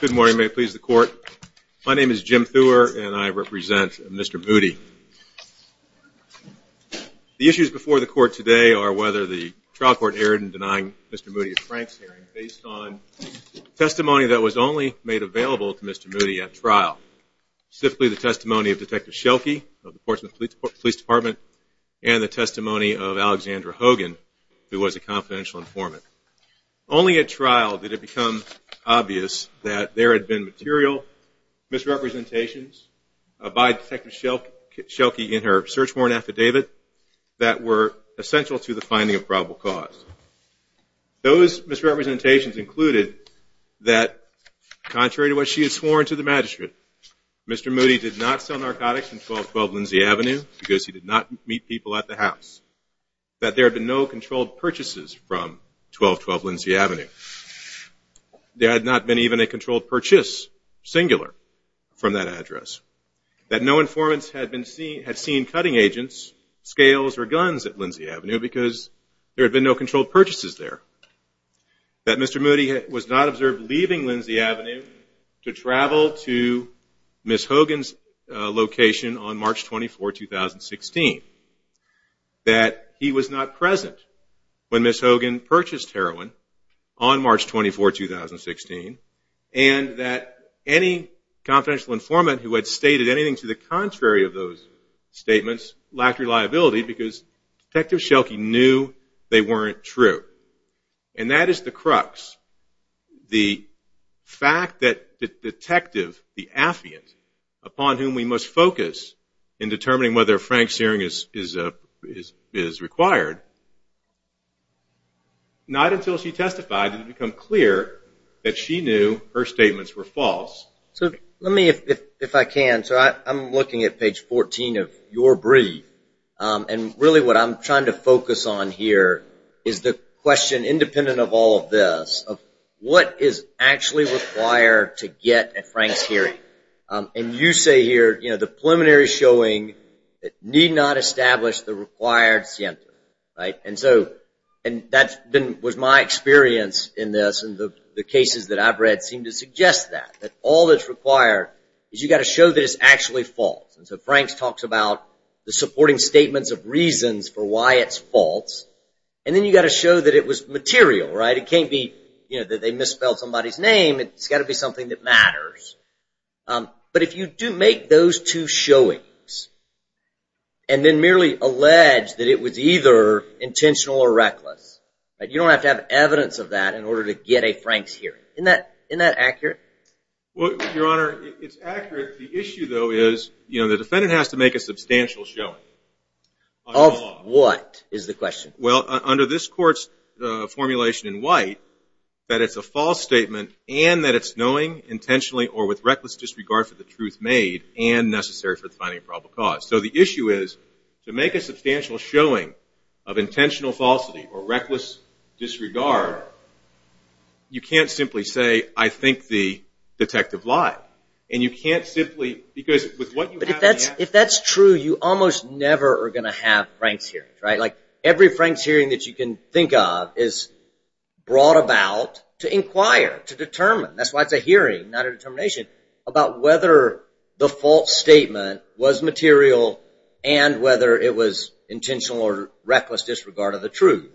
Good morning, may it please the court. My name is Jim Thur and I represent Mr. Moody. The issues before the court today are whether the trial court erred in denying Mr. Moody a Franks hearing based on testimony that was only made available to Mr. Moody at trial. Specifically the testimony of Detective Schelke of the Portsmouth Police Department and the testimony of Alexandra Hogan who was a confidential informant. Only at trial did it become obvious that there had been material misrepresentations by Detective Schelke in her search warrant affidavit that were essential to the finding of probable cause. Those misrepresentations included that contrary to what she had sworn to the magistrate, Mr. Moody did not sell narcotics in 1212 Lindsay Avenue because he did not meet people at the house. That there had been no controlled purchases from 1212 Lindsay Avenue. There had not been even a controlled purchase, singular, from that address. That no informants had seen cutting agents, scales or guns at Lindsay Avenue because there had been no controlled purchases there. That Mr. Moody was not observed leaving Lindsay Avenue to travel to Ms. Hogan's location on March 24, 2016. That he was not present when Ms. Hogan purchased heroin on March 24, 2016. And that any confidential informant who had stated anything to the contrary of those statements lacked reliability because Detective Schelke knew they weren't true. And that is the crux. The fact that the detective, the affiant, upon whom we must focus in determining whether Frank's hearing is required, not until she testified did it become clear that she knew her statements were And really what I'm trying to focus on here is the question, independent of all of this, of what is actually required to get a Frank's hearing. And you say here, you know, the preliminary showing that need not establish the required center, right? And so, and that's been, was my experience in this and the cases that I've read seem to suggest that. That all that's required is you've got to show that it's actually false. And so Frank's talks about the supporting statements of reasons for why it's false. And then you've got to show that it was material, right? It can't be, you know, that they misspelled somebody's name. It's got to be something that matters. But if you do make those two showings and then merely allege that it was either intentional or reckless, you don't have to have evidence of that in order to get a It's accurate. The issue though is, you know, the defendant has to make a substantial showing. Of what is the question? Well, under this court's formulation in white, that it's a false statement and that it's knowing intentionally or with reckless disregard for the truth made and necessary for finding a probable cause. So the issue is to make a substantial showing of intentional falsity or reckless disregard. You can't simply say, I think the detective lied. And you can't simply... Because if that's true, you almost never are going to have Frank's hearings, right? Like every Frank's hearing that you can think of is brought about to inquire, to determine. That's why it's a hearing, not a determination about whether the false statement was material and whether it was intentional or reckless disregard of the truth,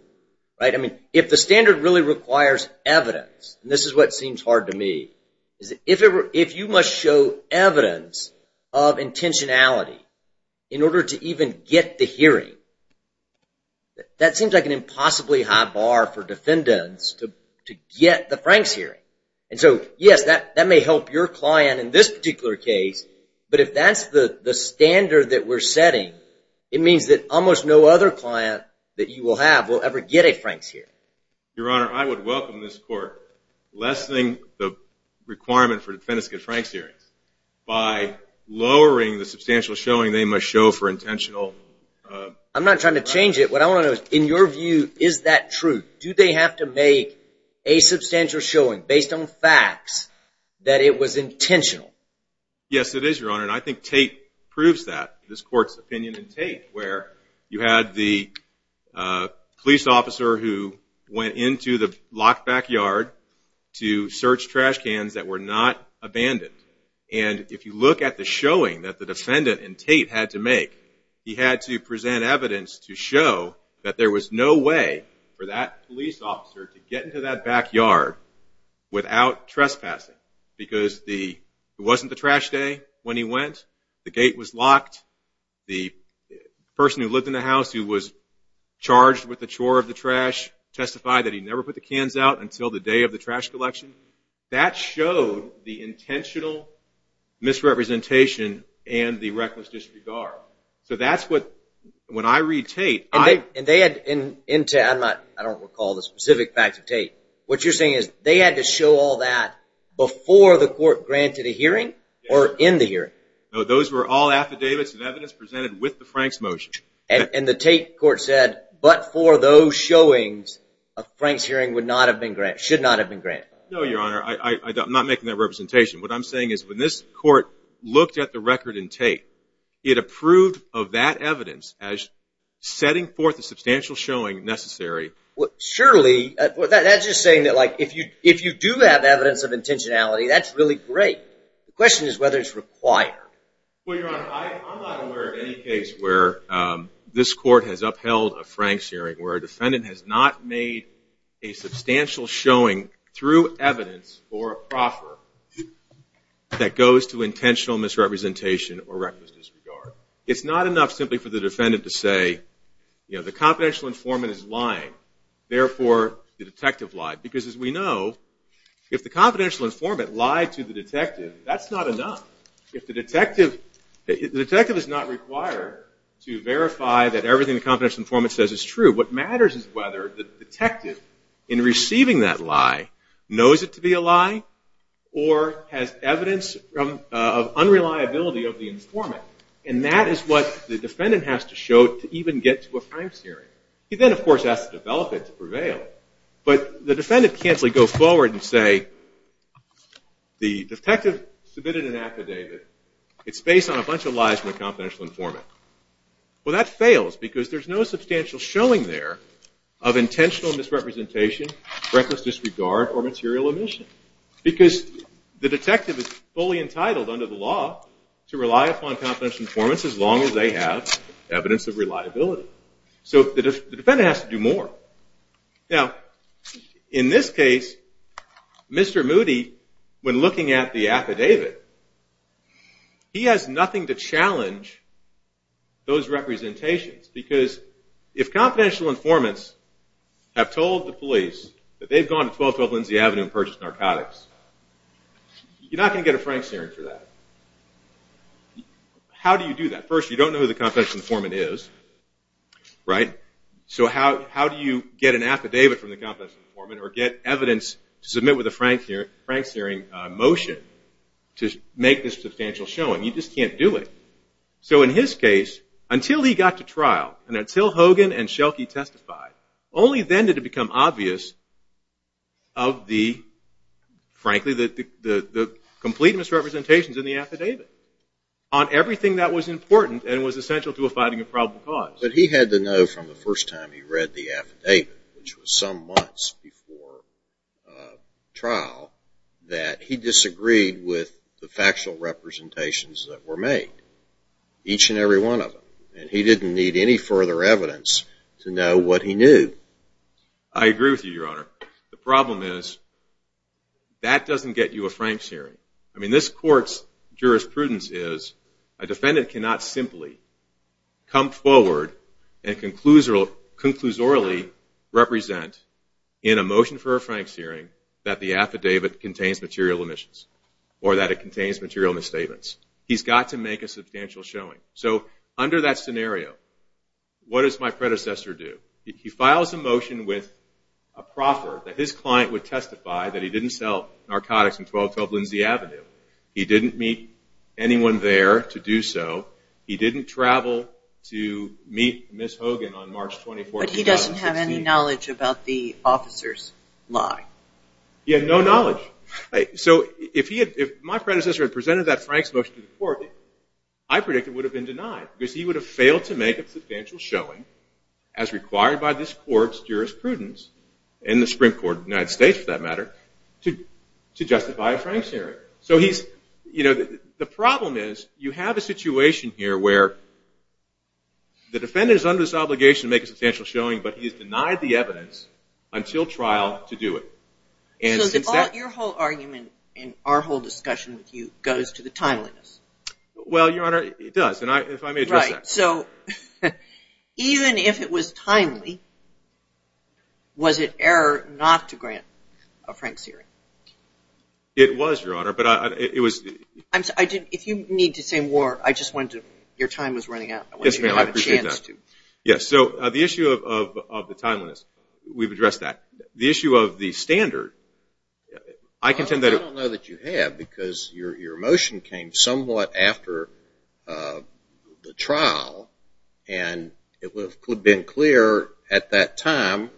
right? I mean, if the standard really requires evidence, and this is what seems hard to me, is if you must show evidence of intentionality in order to even get the hearing, that seems like an impossibly high bar for defendants to get the Frank's hearing. And so yes, that may help your client in this particular case. But if that's the standard that we're setting, it means that almost no other client that you will have will ever get a Frank's hearing. Your Honor, I would welcome this court lessening the requirement for defendants to get Frank's hearings by lowering the substantial showing they must show for intentional... I'm not trying to change it. What I want to know is, in your view, is that true? Do they have to make a substantial showing based on facts that it was intentional? Yes, it is, Your Honor. And I think Tate proves that. This court's opinion in Tate, where you had the police officer who went into the locked backyard to search trash cans that were not abandoned. And if you look at the showing that the defendant in Tate had to make, he had to present evidence to show that there was no way for that police officer to get into that backyard without trespassing. Because it wasn't the trash day when he went, the gate was locked, the person who lived in the house who was charged with the chore of the trash testified that he never put the cans out until the day of the trash collection. That showed the intentional misrepresentation and the reckless disregard. So that's what, when I read Tate... And they had intent... I don't recall the specific facts of Tate. What you're saying is they had to show all that before the court granted a hearing or in the hearing? No, those were all affidavits and evidence presented with the Franks motion. And the Tate court said, but for those showings, a Franks hearing should not have been granted? No, Your Honor. I'm not making that representation. What I'm saying is when this court looked at the record in Tate, it approved of that evidence as setting forth a substantial showing necessary. Surely, that's just saying that if you do have evidence of intentionality, that's really great. The question is whether it's required. Well, Your Honor, I'm not aware of any case where this court has upheld a Franks hearing where a defendant has not made a substantial showing through evidence or a proffer that goes to intentional misrepresentation or reckless disregard. It's not enough simply for the confidential informant is lying, therefore the detective lied. Because as we know, if the confidential informant lied to the detective, that's not enough. The detective is not required to verify that everything the confidential informant says is true. What matters is whether the detective, in receiving that lie, knows it to be a lie or has evidence of unreliability of the informant. And that is what the defendant has to show to even get to a Franks hearing. He then, of course, has to develop it to prevail. But the defendant can't simply go forward and say, the detective submitted an affidavit. It's based on a bunch of lies from the confidential informant. Well, that fails because there's no substantial showing there of intentional misrepresentation, reckless disregard, or material omission. Because the detective is fully entitled under the law to rely upon confidential informants as long as they have evidence of reliability. So the defendant has to do more. Now, in this case, Mr. Moody, when looking at the affidavit, he has nothing to challenge those representations. Because if confidential informants have told the police that they've gone to 1212 Lindsay Avenue and purchased narcotics, you're not going to get a Franks hearing for that. How do you do that? First, you don't know who the confidential informant is. So how do you get an affidavit from the confidential informant or get evidence to submit with a Franks hearing motion to make this substantial showing? You just can't do it. So in his case, until he got to trial and until Hogan and Schelke testified, only then did it on everything that was important and was essential to a finding of probable cause. But he had to know from the first time he read the affidavit, which was some months before trial, that he disagreed with the factual representations that were made, each and every one of them. And he didn't need any further evidence to know what he knew. I agree with you, Your Honor. The problem is that doesn't get you a Franks hearing. I mean, this court's jurisprudence is a defendant cannot simply come forward and conclusorily represent in a motion for a Franks hearing that the affidavit contains material omissions or that it contains material misstatements. He's got to make a substantial showing. So under that scenario, what does my predecessor do? He files a motion with a proffer that his didn't meet anyone there to do so. He didn't travel to meet Ms. Hogan on March 24, 2015. But he doesn't have any knowledge about the officer's lie. He had no knowledge. So if my predecessor had presented that Franks motion to the court, I predict it would have been denied because he would have failed to make a substantial showing as required by this court's jurisprudence, and the Supreme Court of the United States, to justify a Franks hearing. So the problem is you have a situation here where the defendant is under this obligation to make a substantial showing, but he's denied the evidence until trial to do it. So your whole argument and our whole discussion with you goes to the timeliness. Well, Your Honor, it does. And if I may address that. So even if it was timely, was it error not to grant a Franks hearing? It was, Your Honor, but it was... I'm sorry, if you need to say more, I just wanted to... your time was running out. Yes, ma'am, I appreciate that. I wanted you to have a chance to... Yes, so the issue of the timeliness, we've addressed that. The issue of the standard, I contend that... I don't know that you have, because your motion came somewhat after the trial, and it would have been clear at that time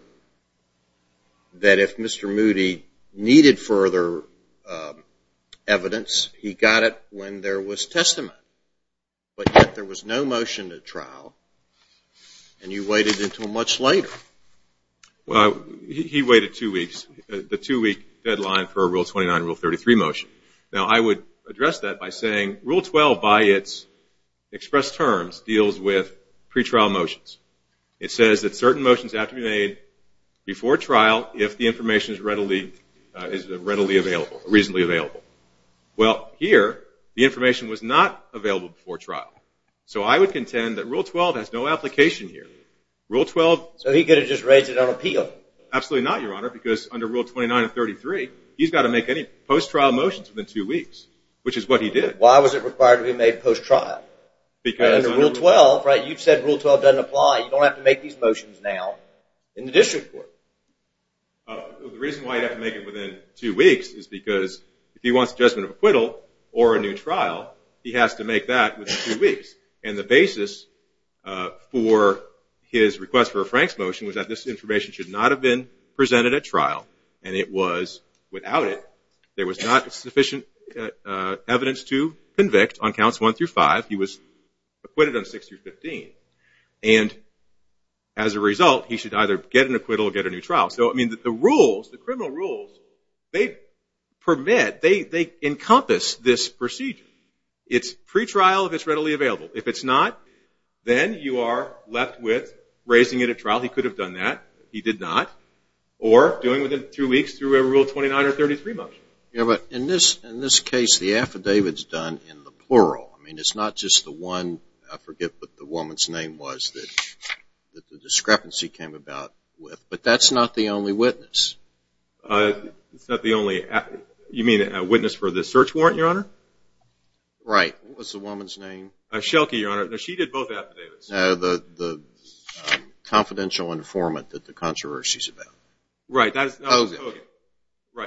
that if Mr. Moody needed further evidence, he got it when there was testament. But yet there was no motion at trial, and you waited until much later. Well, he waited two weeks, the two-week deadline for a Rule 29, Rule 33 motion. Now, I would address that by saying Rule 12, by its expressed terms, deals with pretrial motions. It says that certain motions have to be made before trial if the information is readily... is readily available, reasonably available. Well, here, the information was not available before trial. So I would contend that Rule 12 has no application here. Rule 12... So he could have just raised it on appeal? Absolutely not, Your Honor, because under Rule 29 and 33, he's got to make any post-trial motions within two weeks, which is what he did. Why was it required to be made post-trial? Because... Under Rule 12, right, you've said Rule 12 doesn't apply. You don't have to make these motions now in the district court. The reason why you have to make it within two weeks is because if he wants adjustment of acquittal or a new trial, he has to make that within two weeks. And the basis for his request for a Franks motion was that this information should not have been presented at trial. And it was. Without it, there was not sufficient evidence to convict on counts 1 through 5. He was acquitted on 6 through 15. And as a result, he should either get an acquittal or get a new trial. So, I mean, the rules, the criminal rules, they permit, they encompass this procedure. It's pretrial if it's readily available. If it's not, then you are left with raising it at trial. He could have done that. He did not. Or doing within two weeks through a Rule 29 or 33 motion. Yeah, but in this case, the affidavits done in the plural, I mean, it's not just the one, I forget what the woman's name was, that the discrepancy came about with. But that's not the only witness. It's not the only... You mean a witness for the search warrant, Your Honor? Right. What was the woman's name? Shelke, Your Honor. No, she did both affidavits. The confidential informant that the controversy is about. Right.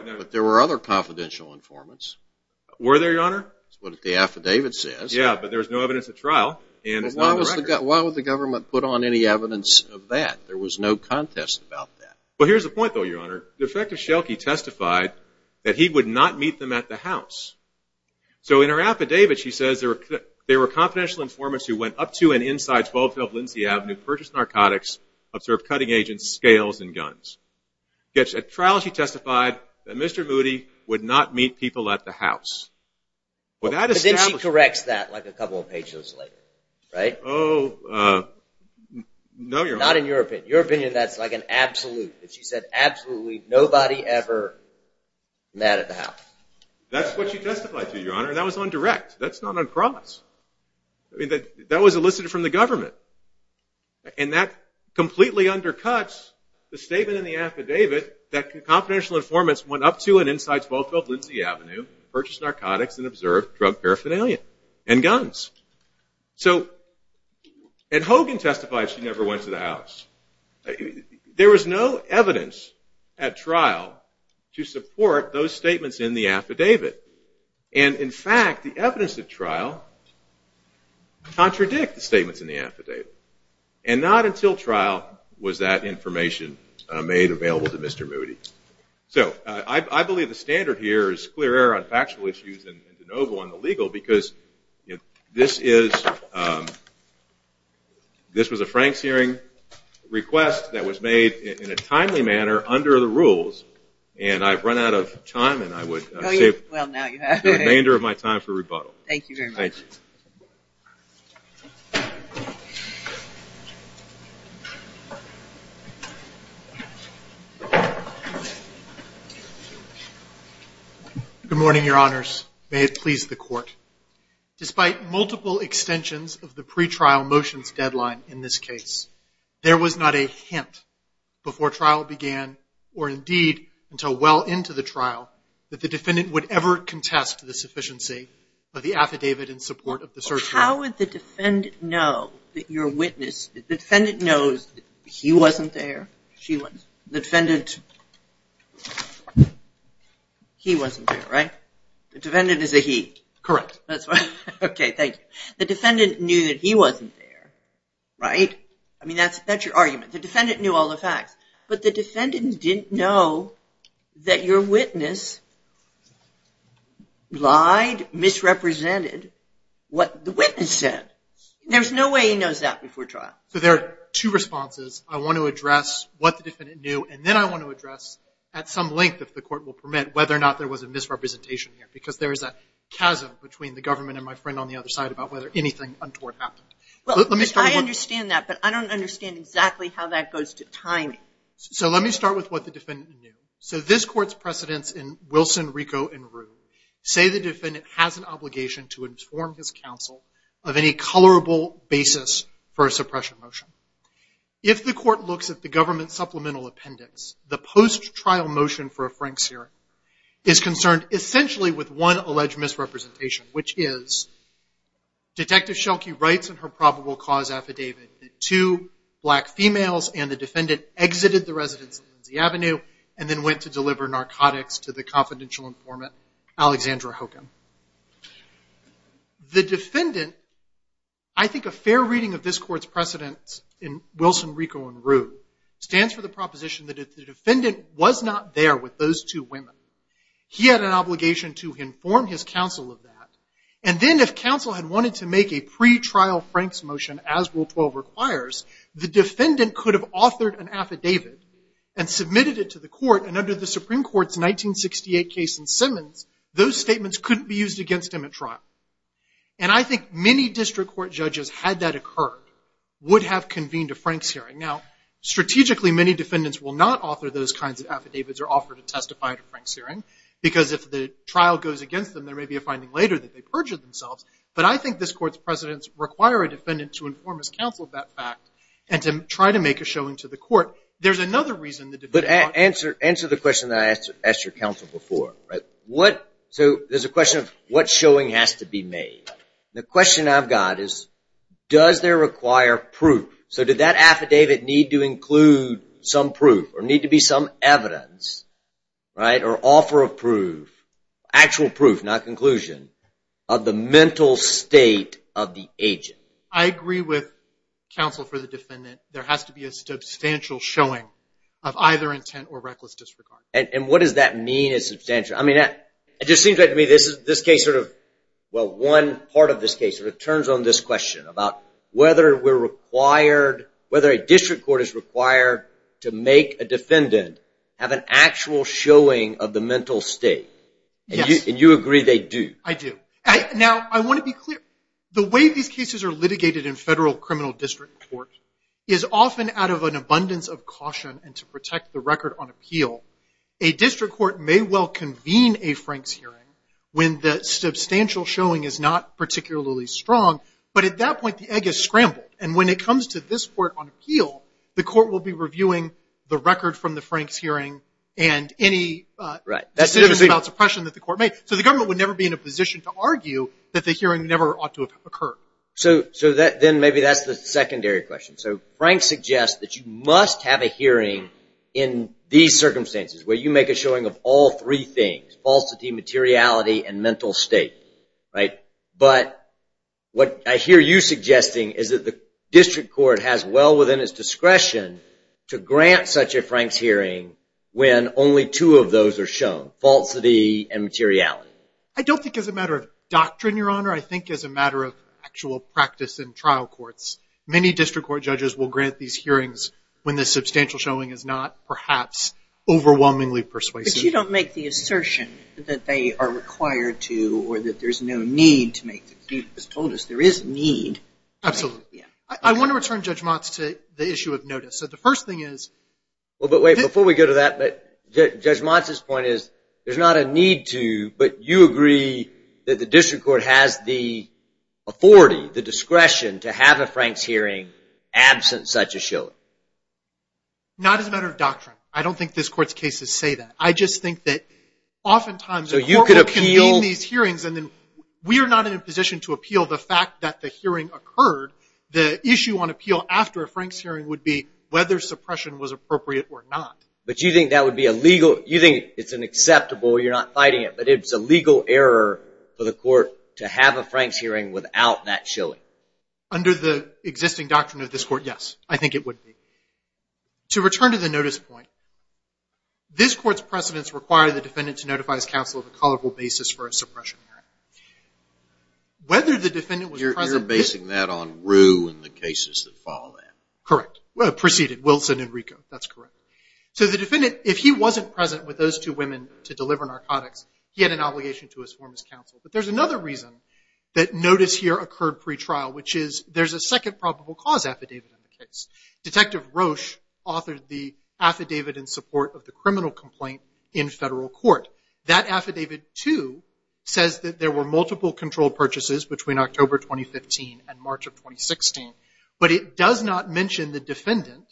But there were other confidential informants. Were there, Your Honor? That's what the affidavit says. Yeah, but there's no evidence at trial. Why would the government put on any evidence of that? There was no contest about that. Well, here's the point, though, Your Honor. The effect of Shelke testified that he would not meet them at the house. So in her affidavit, she says there were confidential informants who went up to and inside 12th Ave. Lindsay Avenue, purchased narcotics, observed cutting agents, scales, and guns. At trial, she testified that Mr. Moody would not meet people at the house. Well, then she corrects that like a couple of pages later, right? Oh, no, Your Honor. Not in your opinion. Your opinion, that's like an absolute. If she said absolutely, nobody ever met at the house. That's what she testified to, Your Honor. That was on direct. That's on cross. That was elicited from the government. And that completely undercuts the statement in the affidavit that confidential informants went up to and inside 12th Ave. Lindsay Avenue, purchased narcotics, and observed drug paraphernalia and guns. So, and Hogan testified she never went to the house. There was no evidence at trial to support those statements in the affidavit. And in fact, the evidence at trial contradict the statements in the affidavit. And not until trial was that information made available to Mr. Moody. So, I believe the standard here is clear error on factual issues and de novo on the legal because this is, this was a Frank's hearing request that was made in a timely manner under the rules. And I've run out of time and I would say the remainder of my time for rebuttal. Thank you very much. Good morning, Your Honors. May it please the court. Despite multiple extensions of the pre-trial motions deadline in this case, there was not a hint before trial began or indeed until well into the trial that the defendant would ever contest the sufficiency of the affidavit in support of the search warrant. How would the defendant know that your witness, the defendant knows he wasn't there? She wasn't. The defendant, he wasn't there, right? The defendant is a he. Correct. That's why. Okay, thank you. The defendant knew that he wasn't there, right? I mean, that's, that's your facts. But the defendant didn't know that your witness lied, misrepresented what the witness said. There's no way he knows that before trial. So, there are two responses. I want to address what the defendant knew and then I want to address at some length, if the court will permit, whether or not there was a misrepresentation here because there is a chasm between the government and my friend on the other side about whether anything untoward happened. Well, I understand that, but I don't understand exactly how that goes to timing. So, let me start with what the defendant knew. So, this court's precedents in Wilson, Rico, and Rue say the defendant has an obligation to inform his counsel of any colorable basis for a suppression motion. If the court looks at the government supplemental appendix, the post-trial motion for a Frank Searing is concerned essentially with one alleged misrepresentation, which is Detective Schelke writes in her probable cause affidavit that two black females and the defendant exited the residence of Lindsay Avenue and then went to deliver narcotics to the confidential informant, Alexandra Hogan. The defendant, I think a fair reading of this court's precedents in Wilson, Rico, and Rue stands for the proposition that if the defendant was not there with those two women, he had an obligation to inform his counsel of that. And then if counsel had wanted to make a pre-trial Frank's motion as Rule 12 requires, the defendant could have authored an affidavit and submitted it to the court, and under the Supreme Court's 1968 case in Simmons, those statements couldn't be used against him at trial. And I think many district court judges, had that occurred, would have convened a Frank Searing. Now, strategically, many defendants will not author those kinds of affidavits or offer to testify to later that they perjured themselves, but I think this court's precedents require a defendant to inform his counsel of that fact and to try to make a showing to the court. There's another reason that answer the question that I asked your counsel before, right? So there's a question of what showing has to be made. The question I've got is does there require proof? So did that affidavit need to include some proof or need to be some evidence, right? Or offer of proof, actual proof, not conclusion, of the mental state of the agent? I agree with counsel for the defendant. There has to be a substantial showing of either intent or reckless disregard. And what does that mean is substantial? I mean, it just seems like to me this is this case sort of, well, one part of this case sort of turns on this question about whether we're required, whether a district court is required to make a defendant have an actual showing of the mental state. And you agree they do. I do. Now, I want to be clear. The way these cases are litigated in federal criminal district courts is often out of an abundance of caution and to protect the record on appeal. A district court may well convene a Frank's hearing when the substantial showing is not particularly strong, but at that point the egg is scrambled. And when it comes to this court on appeal, the court will be reviewing the record from the Frank's hearing and any decision about suppression that the court made. So the government would never be in a position to argue that the hearing never ought to have occurred. So then maybe that's the secondary question. So Frank suggests that you must have a hearing in these circumstances where you make a showing of all three things, falsity, materiality, and mental state, right? But what I hear you suggesting is that the district court has well within its discretion to grant such a Frank's hearing when only two of those are shown, falsity and materiality. I don't think as a matter of doctrine, Your Honor. I think as a matter of actual practice in trial courts, many district court judges will grant these hearings when the substantial showing is not perhaps overwhelmingly persuasive. But you don't make the assertion that they are required to, or that there's no need to make the case. You've just told us there is need. Absolutely. I want to return Judge Motz to the issue of notice. So the first thing is. Well, but wait, before we go to that, but Judge Motz's point is there's not a need to, but you agree that the district court has the authority, the discretion to have a Frank's hearing absent such a showing. Not as a matter of doctrine. I don't think this court's cases say that. I just think that oftentimes the court will convene these hearings and then we are not in a position to appeal the fact that the hearing occurred. The issue on appeal after a Frank's hearing would be whether suppression was appropriate or not. But you think that would be a legal, you think it's an acceptable, you're not fighting it, but it's a legal error for the court to have a Frank's hearing without that showing. Under the existing doctrine of this court, yes, I think it would be. To return to the notice point, this court's precedents require the defendant to notify his counsel of a colloquial basis for a suppression hearing. Whether the defendant was present- You're basing that on Rue and the cases that follow that. Correct. Proceeded, Wilson and Rico, that's correct. So the defendant, if he wasn't present with those two women to deliver narcotics, he had an obligation to his former counsel. But there's another reason that notice here occurred pre-trial, which is there's a second probable cause affidavit in the case. Detective Roche authored the affidavit in support of the criminal complaint in federal court. That affidavit, too, says that there were multiple controlled purchases between October 2015 and March of 2016. But it does not mention the defendant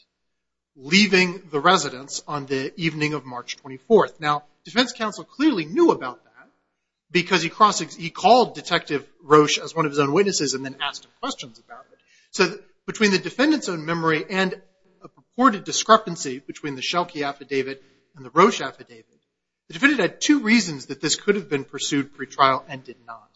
leaving the residence on the evening of March 24th. Now, defense counsel clearly knew about that because he called Detective Roche as one of his own witnesses and then asked him questions about it. So between the defendant's own memory and a purported discrepancy between the Schelke affidavit and the Roche affidavit, the defendant had two reasons that this could have been pursued pre-trial and did not.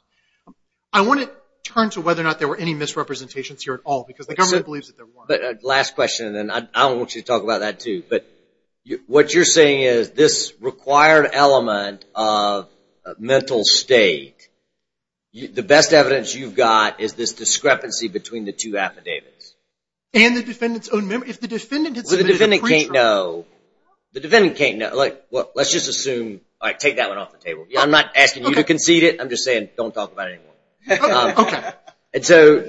I want to turn to whether or not there were any misrepresentations here at all, because the government believes that there were. Last question, and then I want you to talk about that, too. But what you're saying is this required element of mental state, the best evidence you've got is this discrepancy between the two affidavits. And the defendant's own memory. If the defendant had submitted a pre-trial... Well, the defendant can't know. The defendant can't know. Let's just assume... All right, take that one off the table. I'm not asking you to concede it. I'm just saying don't talk about it anymore. And so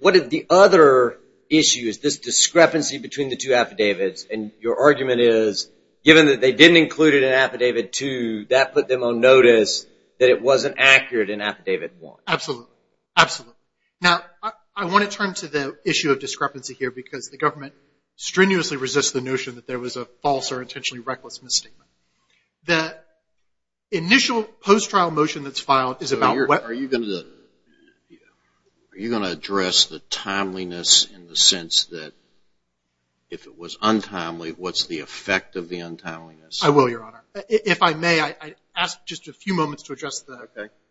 what are the other issues, this discrepancy between the two affidavits? And your argument is, given that they didn't include it in Affidavit 2, that put them on notice that it wasn't accurate in Affidavit 1. Absolutely. Absolutely. Now, I want to turn to the issue of discrepancy here because the government strenuously resists the notion that there was a false or intentionally reckless misstatement. The initial post-trial motion that's filed is about what... Are you going to address the timeliness in the sense that if it was untimely, what's the effect of the untimeliness? I will, Your Honor. If I may, I'd ask just a few moments to address the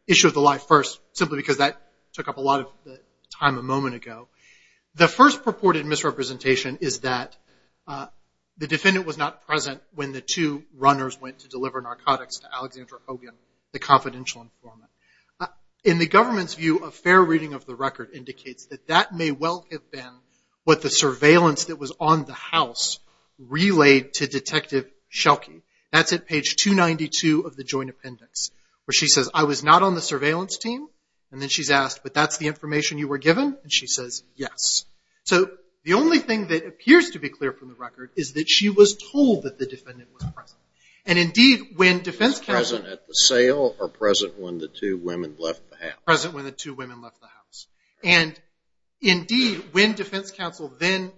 issue of the lie first, simply because that took up a lot of the time a moment ago. The first purported misrepresentation is that the defendant was not present when the two runners went to deliver narcotics to Alexandra Obian, the confidential informant. In the government's view, a fair reading of the record indicates that that may well have been what the surveillance that was on the house relayed to Detective Schelke. That's at page 292 of the joint appendix, where she says, I was not on the surveillance team. And then she's asked, but that's the information you were given? And she says, yes. So the only thing that appears to be clear from the record is that she was told that the defendant was present. And indeed, when defense counsel... Was present at the sale or present when the two women left the house? Present when the two women left the house. And indeed, when defense counsel then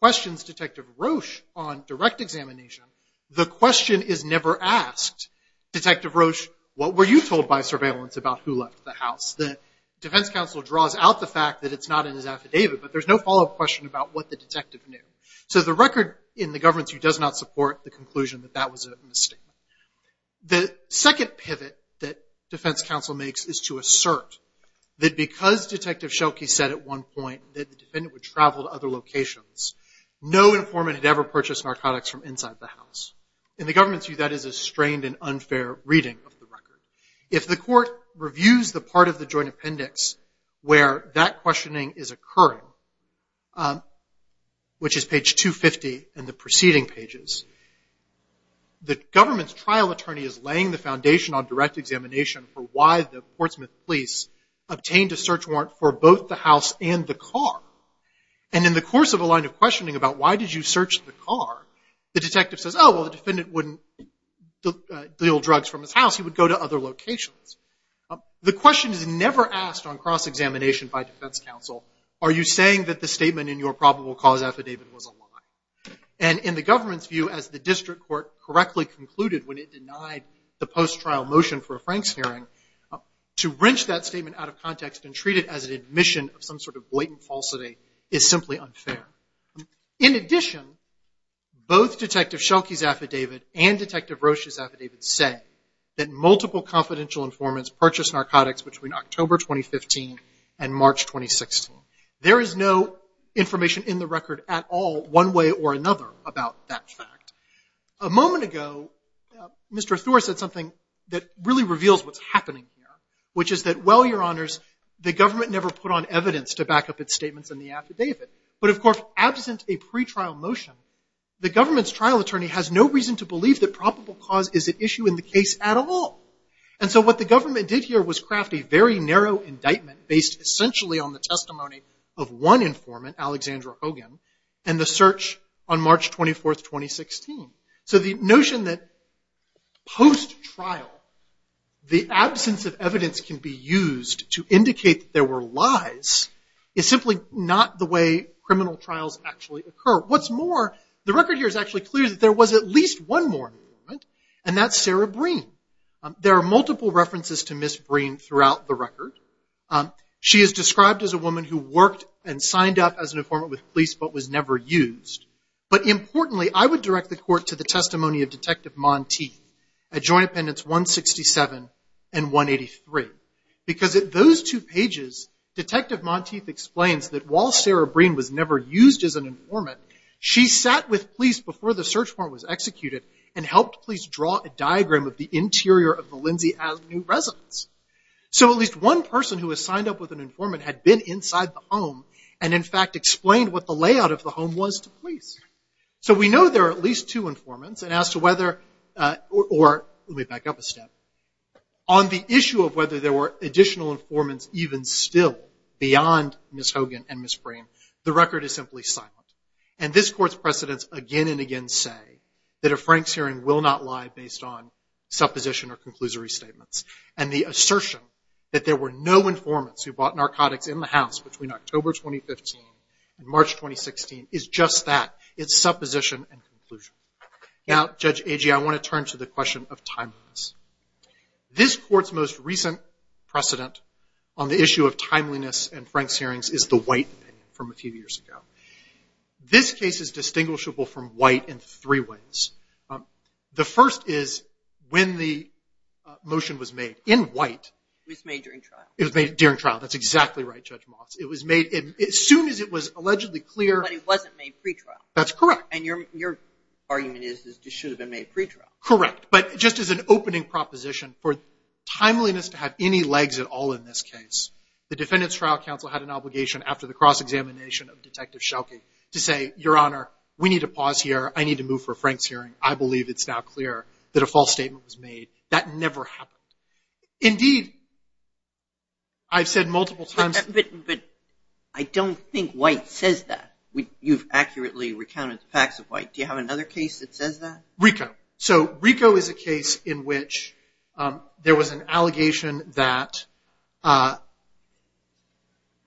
questions Detective Roche on direct examination, the question is never asked. Detective Roche, what were you told by surveillance about who left the house? The defense counsel draws out the fact that it's not in his affidavit, but there's no follow-up question about what the detective knew. So the record in the government's view does not support the conclusion that that was a mistake. The second pivot that defense counsel makes is to assert that because Detective Schelke said at one point that the defendant would travel to other locations, no informant had ever purchased narcotics from inside the house. In the government's view, that is a strained and unfair reading of the record. If the court reviews the part of the joint appendix where that questioning is occurring, which is page 250 in the preceding pages, the government's trial attorney is laying the foundation on direct examination for why the Portsmouth Police obtained a search warrant for both the house and the car. And in the course of a line of questioning about why did you search the car, the detective says, oh, well, the defendant wouldn't deal drugs from his house. He would go to other locations. The question is never asked on cross-examination by defense counsel, are you saying that the statement in your probable cause affidavit was a lie? And in the government's view, as the district court correctly concluded when it denied the post-trial motion for a statement out of context and treat it as an admission of some sort of blatant falsity, it's simply unfair. In addition, both Detective Schelke's affidavit and Detective Rocha's affidavit say that multiple confidential informants purchased narcotics between October 2015 and March 2016. There is no information in the record at all, one way or another, about that fact. A moment ago, Mr. Thorne said something that really reveals what's the government never put on evidence to back up its statements in the affidavit. But of course, absent a pretrial motion, the government's trial attorney has no reason to believe that probable cause is an issue in the case at all. And so what the government did here was craft a very narrow indictment based essentially on the testimony of one informant, Alexandra Hogan, and the search on March 24, 2016. So the notion that post-trial, the absence of evidence can be used to indicate that there were lies is simply not the way criminal trials actually occur. What's more, the record here is actually clear that there was at least one more informant, and that's Sarah Breen. There are multiple references to Ms. Breen throughout the record. She is described as a woman who worked and signed up as an informant with police but was never used. But importantly, I would direct the audience to pages 167 and 183, because at those two pages, Detective Monteith explains that while Sarah Breen was never used as an informant, she sat with police before the search warrant was executed and helped police draw a diagram of the interior of the Lindsay Avenue residence. So at least one person who had signed up with an informant had been inside the home and, in fact, explained what the layout of the home was to police. So we know there are at least two informants, and as to whether, or let me back up a step, on the issue of whether there were additional informants even still beyond Ms. Hogan and Ms. Breen, the record is simply silent. And this Court's precedents again and again say that a Franks hearing will not lie based on supposition or conclusory statements. And the assertion that there were no informants who bought narcotics in the house between October 2015 and March 2016 is just that. It's supposition and conclusion. Now, Judge Agee, I want to turn to the question of timeliness. This Court's most recent precedent on the issue of timeliness in Franks hearings is the White opinion from a few years ago. This case is distinguishable from White in three ways. The first is when the motion was made, in White. It was made during trial. It was made during trial. That's exactly right, Judge Motz. It was made as soon as it was clear. But it wasn't made pre-trial. That's correct. And your argument is that it should have been made pre-trial. Correct. But just as an opening proposition, for timeliness to have any legs at all in this case, the Defendant's Trial Council had an obligation after the cross-examination of Detective Schelke to say, Your Honor, we need to pause here. I need to move for a Franks hearing. I believe it's now clear that a false statement was made. That never happened. Indeed, I've said multiple times that— You've accurately recounted the facts of White. Do you have another case that says that? RICO. So RICO is a case in which there was an allegation that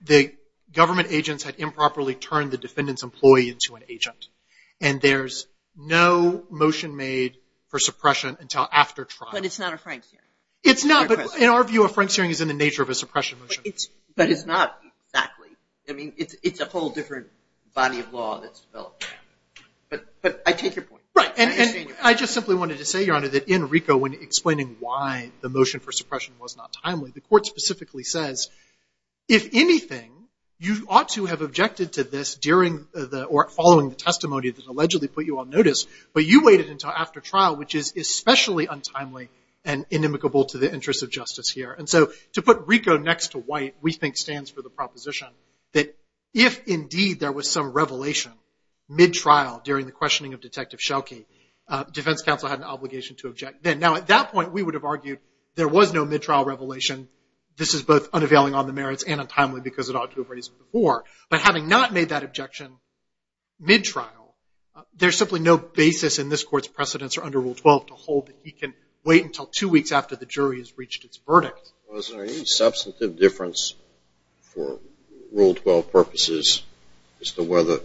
the government agents had improperly turned the defendant's employee into an agent. And there's no motion made for suppression until after trial. But it's not a Franks hearing. It's not, but in our view, a Franks hearing is in the nature of a suppression motion. But it's not exactly. I mean, it's a whole different body of law that's developed. But I take your point. Right. And I just simply wanted to say, Your Honor, that in RICO, when explaining why the motion for suppression was not timely, the Court specifically says, if anything, you ought to have objected to this during the—or following the testimony that allegedly put you on notice, but you waited until after trial, which is especially untimely and inimicable to the interests of justice here. And so to put RICO next to White, we think, stands for the proposition that if, indeed, there was some revelation mid-trial during the questioning of Detective Schelke, defense counsel had an obligation to object then. Now, at that point, we would have argued there was no mid-trial revelation. This is both unavailing on the merits and untimely because it ought to have raised before. But having not made that objection mid-trial, there's simply no basis in this Court's precedence or under Rule 12 to hold that he can wait until two weeks after the jury has reached its verdict. Was there any substantive difference for Rule 12 purposes as to whether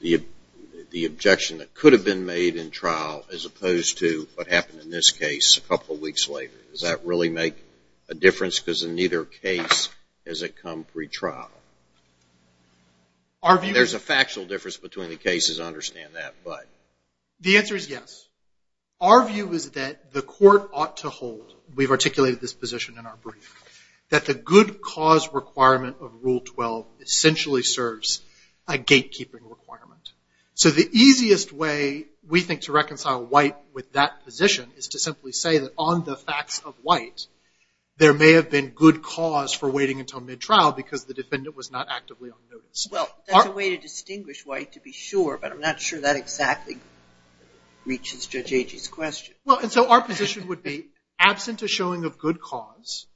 the objection that could have been made in trial as opposed to what happened in this case a couple of weeks later, does that really make a difference? Because in neither case has it come pre-trial. Our view— There's a factual difference between the cases. I understand that. But— The answer is yes. Our view is that the Court ought to hold—we've articulated this position in our brief—that the good cause requirement of Rule 12 essentially serves a gatekeeping requirement. So the easiest way, we think, to reconcile White with that position is to simply say that on the facts of White, there may have been good cause for waiting until mid-trial because the defendant was not actively on notice. Well, that's a way to distinguish White, to be sure, but I'm not sure that exactly reaches Judge Agee's question. Well, and so our position would be, absent a showing of good cause,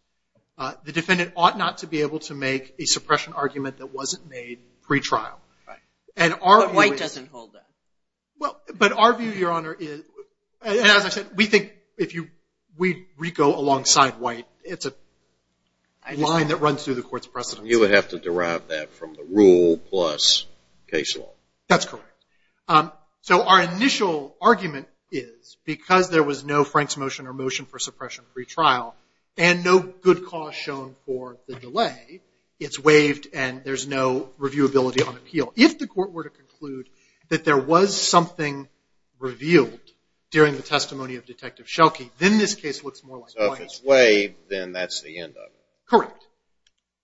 the defendant ought not to be able to make a suppression argument that wasn't made pre-trial. Right. But White doesn't hold that. But our view, Your Honor, is—as I said, we think if we go alongside White, it's a line that runs through the Court's precedence. You would have to derive that from the Rule plus case law. That's correct. So our initial argument is, because there was no Frank's motion or motion for suppression pre-trial, and no good cause shown for the delay, it's waived and there's no reviewability on appeal. If the Court were to conclude that there was something revealed during the testimony of Detective Schelke, then this case looks more like White. So if it's waived, then that's the end of it.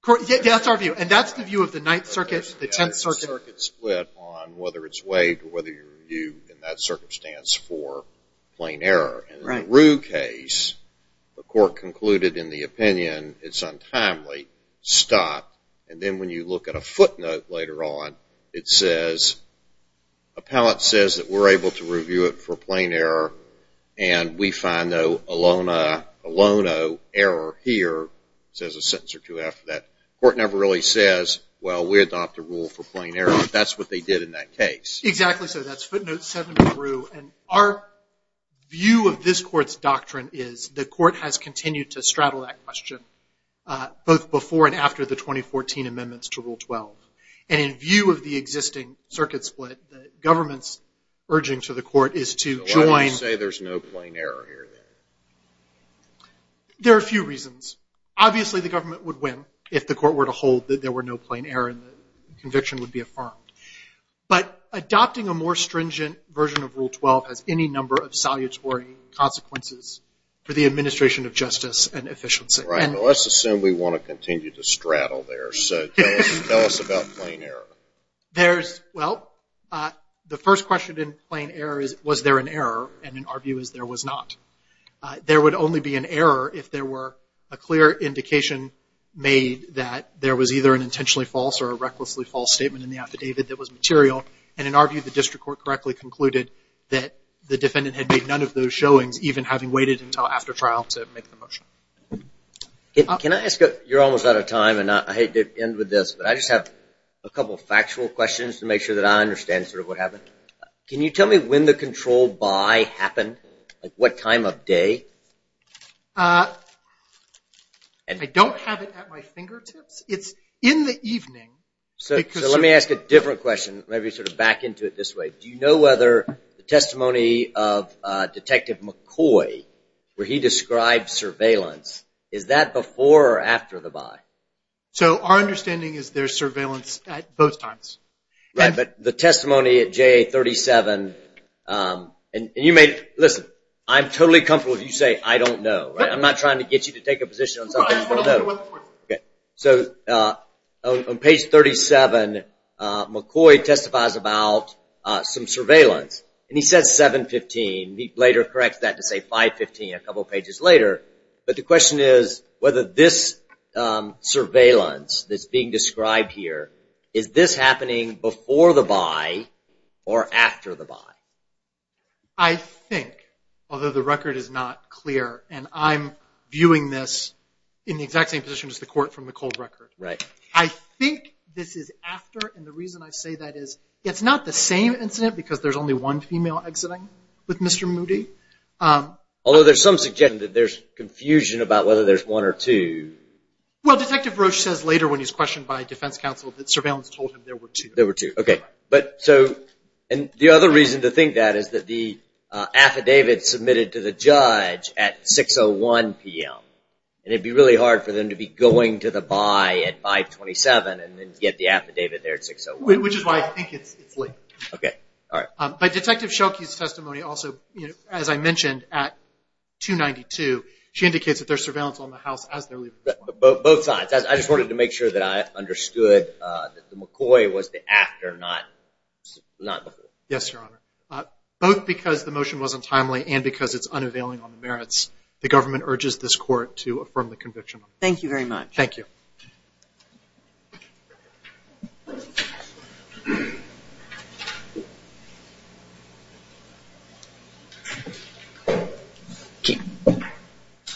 Correct. That's our view. And that's the view of the Ninth Circuit, the Tenth Circuit. The Ninth Circuit split on whether it's waived or whether you review in that circumstance for plain error. Right. In the Rue case, the Court concluded in the opinion it's untimely. Stop. And then when you look at a footnote later on, it says, appellate says that we're able to review it for plain error, and we find, though, a lono error here. It says a sentence or two after that. The Court never really says, well, we adopt a rule for plain error. That's what they did in that case. Exactly. So that's footnote 7 in the Rue. And our view of this Court's doctrine is, the Court has continued to straddle that question, both before and after the 2014 amendments to Rule 12. And in view of the existing circuit split, the government's urging to the Court is to join- So why do you say there's no plain error here, then? There are a few reasons. Obviously, the government would win if the Court were to hold that there were no plain error and the conviction would be affirmed. But adopting a more stringent version of Rule 12 has any number of salutary consequences for the administration of justice and efficiency. Right. Well, let's assume we want to continue to straddle there. So tell us about plain error. Well, the first question in plain error is, was there an error? And in our view is, there was not. There would only be an error if there were a clear indication made that there was either an intentionally false or a recklessly false statement in the affidavit that was material. And in our view, the District Court correctly concluded that the defendant had made none of those showings, even having waited until after trial to make the motion. Can I ask a- you're almost out of time, and I hate to end with this, but I just have a couple of factual questions to make sure that I understand sort of what happened. Can you tell me when the control by happened? Like, what time of day? Uh, I don't have it at my fingertips. It's in the evening. So let me ask a different question, maybe sort of back into it this way. Do you know whether the testimony of Detective McCoy, where he described surveillance, is that before or after the buy? So our understanding is there's surveillance at both times. Right, but the testimony at JA-37, and you may- listen, I'm totally comfortable if you say I don't know, right? I'm not trying to get you to take a position on something. Okay, so on page 37, McCoy testifies about some surveillance, and he says 7-15. He later corrects that to say 5-15 a couple pages later, but the question is whether this surveillance that's being described here, is this happening before the buy or after the buy? I think, although the record is not clear, and I'm viewing this in the exact same position as the court from the cold record. I think this is after, and the reason I say that is it's not the same incident because there's only one female exiting with Mr. Moody. Although there's some suggestion that there's confusion about whether there's one or two. Well Detective Roche says later when he's questioned by defense counsel that surveillance told him there were two. There were two, okay. But so, and the other reason to think that is that the affidavit submitted to the judge at 6-01 p.m., and it would be really hard for them to be going to the buy at 5-27 and then get the affidavit there at 6-01. Which is why I think it's late. Okay, alright. But Detective Shelke's testimony also, as I mentioned, at 2-92, she indicates that there's surveillance on the house as they're leaving. Both sides. I just wanted to make sure that I understood that the McCoy was the after, not the before. Yes, Your Honor. Both because the motion wasn't timely and because it's unavailing on the merits, the government urges this court to affirm the conviction. Thank you very much. Thank you.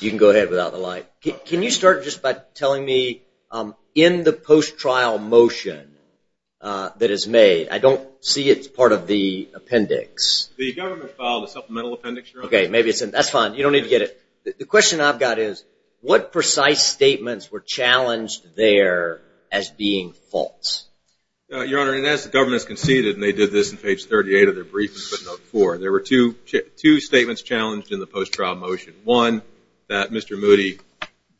You can go ahead without the light. Can you start just by telling me, in the post-trial motion that is made, I don't see it's part of the appendix. The government filed a supplemental appendix, Your Honor. Okay, maybe it's in, that's fine. You don't need to get it. The question I've got is, what precise statements were challenged there as being false? Your Honor, and as the government has conceded, and they did this in page 38 of their brief in footnote 4, there were two statements challenged in the post-trial motion. One, that Mr. Moody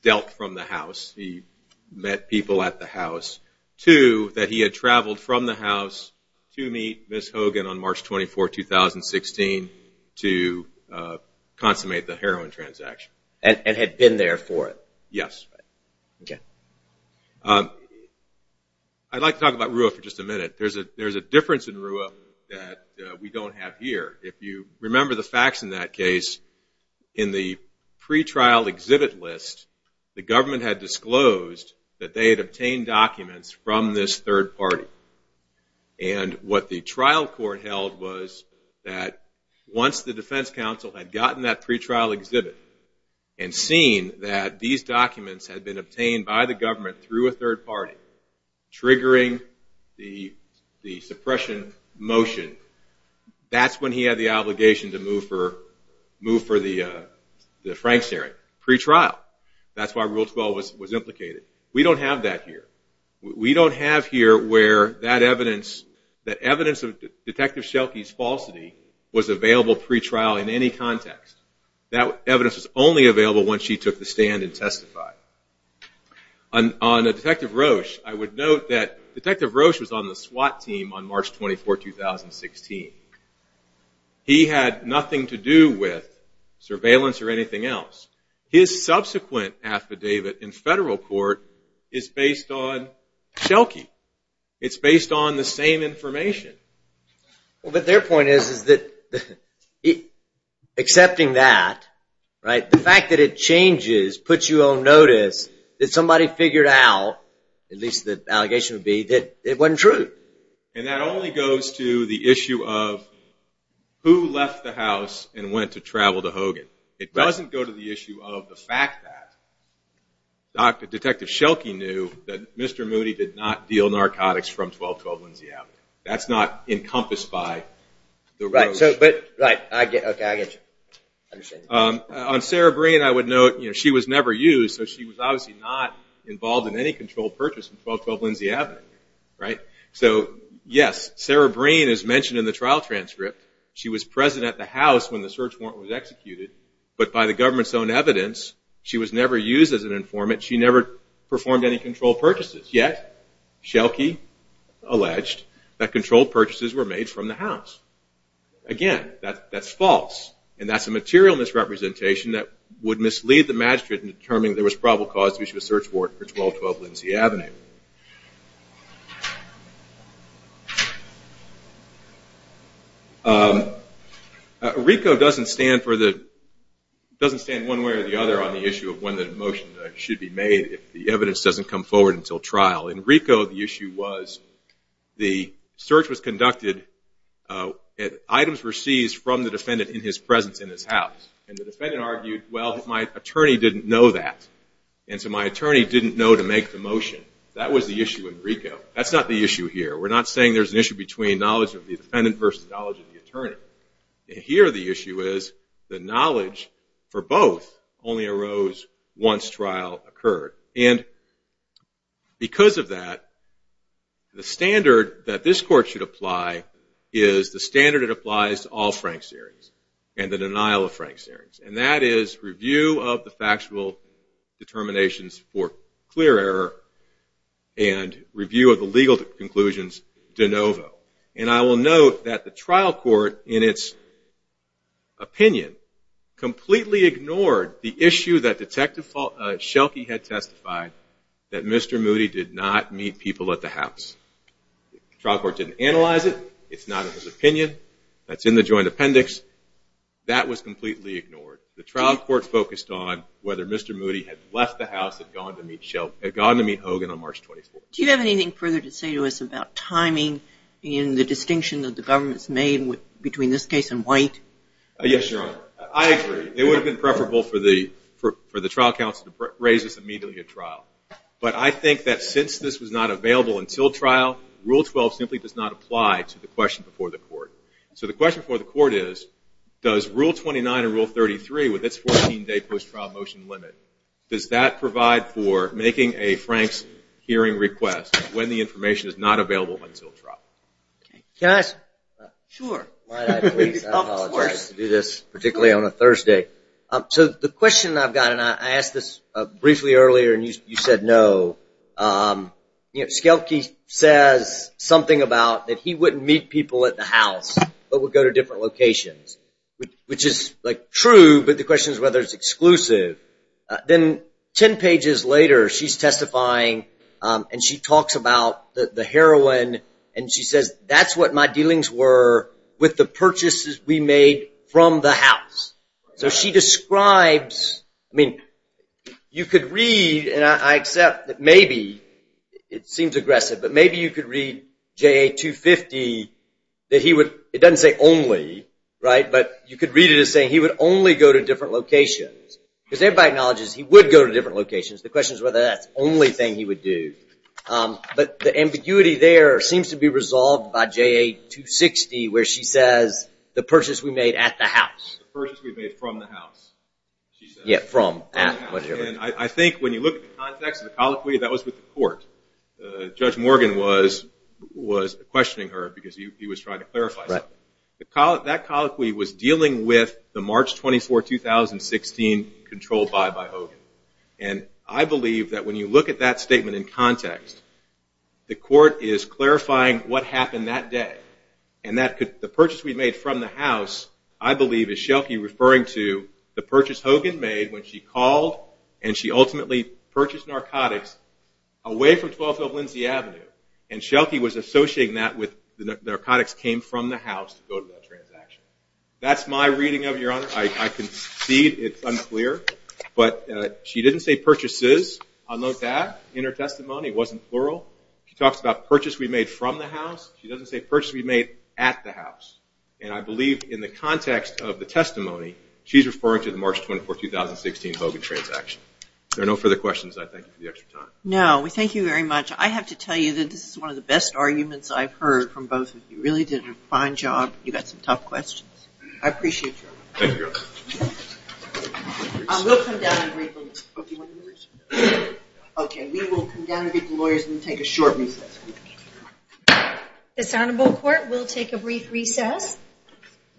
dealt from the house. He met people at the house. Two, that he had traveled from the house to meet Ms. Hogan on March 24, 2016 to consummate the heroin transaction. And had been there for it. Yes. Okay. I'd like to talk about RUA for just a minute. There's a difference in RUA that we don't have here. If you remember the facts in that case, in the pretrial exhibit list, the government had disclosed that they had obtained documents from this third party. And what the trial court held was that once the defense counsel had gotten that pretrial exhibit and seen that these documents had been obtained by the government through a third party, triggering the suppression motion, that's when he had the obligation to move for the Frank's hearing. Pretrial. That's why Rule 12 was implicated. We don't have that here. We don't have here where that evidence, that evidence of Detective Schelke's falsity was available pretrial in any context. That evidence was only available when she took the stand and testified. On Detective Roche, I would note that Detective Roche was on the SWAT team on March 24, 2016. He had nothing to do with surveillance or anything else. His subsequent affidavit in federal court is based on Schelke. It's based on the same information. Well, but their point is that accepting that, the fact that it changes, puts you on notice, that somebody figured out, at least the allegation would be, that it wasn't true. And that only goes to the issue of who left the house and went to travel to Hogan. It doesn't go to the issue of the fact that Detective Schelke knew that Mr. Moody did not deal narcotics from 1212 Lindsay Avenue. That's not encompassed by the Roche. Right. Okay. I get you. I understand. On Sarah Breen, I would note, she was never used, so she was obviously not involved in any controlled purchase from 1212 Lindsay Avenue. So yes, Sarah Breen is mentioned in the trial transcript. She was present at the house when the search warrant was executed. But by the government's own evidence, she was never used as an informant. She never performed any controlled purchases. Yet, Schelke alleged that controlled purchases were made from the house. Again, that's false. And that's a material misrepresentation that would mislead the magistrate in determining that there was probable cause to issue a search warrant for 1212 Lindsay Avenue. RICO doesn't stand one way or the other on the issue of when the motion should be made if the evidence doesn't come forward until trial. In RICO, the issue was the search was conducted, items were seized from the defendant in his presence in his house. And the defendant argued, well, my attorney didn't know that. And so my attorney didn't know to make the motion. That was the issue in RICO. That's not the issue here. We're not saying there's an issue between knowledge of the defendant versus knowledge of the attorney. Here, the issue is the knowledge for both only arose once trial occurred. And because of that, the standard that this court should apply is the standard that applies to all Franks hearings and the denial of Franks hearings. And that is review of the factual determinations for clear error and review of the legal conclusions de novo. And I will note that the trial court, in its opinion, completely ignored the issue that Detective Schelke had testified, that Mr. Moody did not meet people at the house. Trial court didn't analyze it. It's not in his opinion. That's in the joint appendix. That was completely ignored. The trial court focused on whether Mr. Moody had left the house, had gone to meet Schelke, had gone to meet Hogan on March 24. Do you have anything further to say to us about timing in the distinction that the government's made between this case and White? Yes, Your Honor. It would have been preferable for the trial counsel to raise this immediately at trial. But I think that since this was not available until trial, Rule 12 simply does not apply to the question before the court. So the question before the court is, does Rule 29 and Rule 33, with its 14-day post-trial motion limit, does that provide for making a Franks hearing request when the information is not available until trial? Can I ask? Sure. Might I please apologize to do this, particularly on a Thursday. So the question I've got, and I asked this briefly earlier, and you said no. Schelke says something about that he wouldn't meet people at the house, but would go to different locations, which is true, but the question is whether it's exclusive. Then 10 pages later, she's testifying, and she talks about the heroin. And she says, that's what my dealings were with the purchases we made from the house. So she describes, I mean, you could read, and I accept that maybe it seems aggressive, but maybe you could read JA 250, that he would, it doesn't say only, but you could read it as saying he would only go to different locations. Because everybody acknowledges he would go to different locations. The question is whether that's the only thing he would do. But the ambiguity there seems to be resolved by JA 260, where she says, the purchase we made at the house. The purchase we made from the house, she says. Yeah, from, at, whatever. I think when you look at the context of the colloquy, that was with the court. Judge Morgan was questioning her because he was trying to clarify something. That colloquy was dealing with the March 24, 2016 control buy by Hogan. And I believe that when you look at that statement in context, the court is clarifying what happened that day. And that could, the purchase we made from the house, I believe is Schelke referring to the purchase Hogan made when she called, and she ultimately purchased narcotics away from 12th of Lindsay Avenue. And Schelke was associating that with the narcotics came from the house to go to that transaction. That's my reading of your honor. I concede it's unclear. But she didn't say purchases, I'll note that in her testimony. It wasn't plural. She talks about purchase we made from the house. She doesn't say purchase we made at the house. And I believe in the context of the testimony, she's referring to the March 24, 2016 Hogan transaction. If there are no further questions, I thank you for the extra time. No, we thank you very much. I have to tell you that this is one of the best arguments I've heard from both of you. You really did a fine job. You got some tough questions. I appreciate your help. Thank you, Your Honor. We'll come down and break the rules. Do you want to do this? OK, we will come down and get the lawyers and take a short recess. This honorable court will take a brief recess.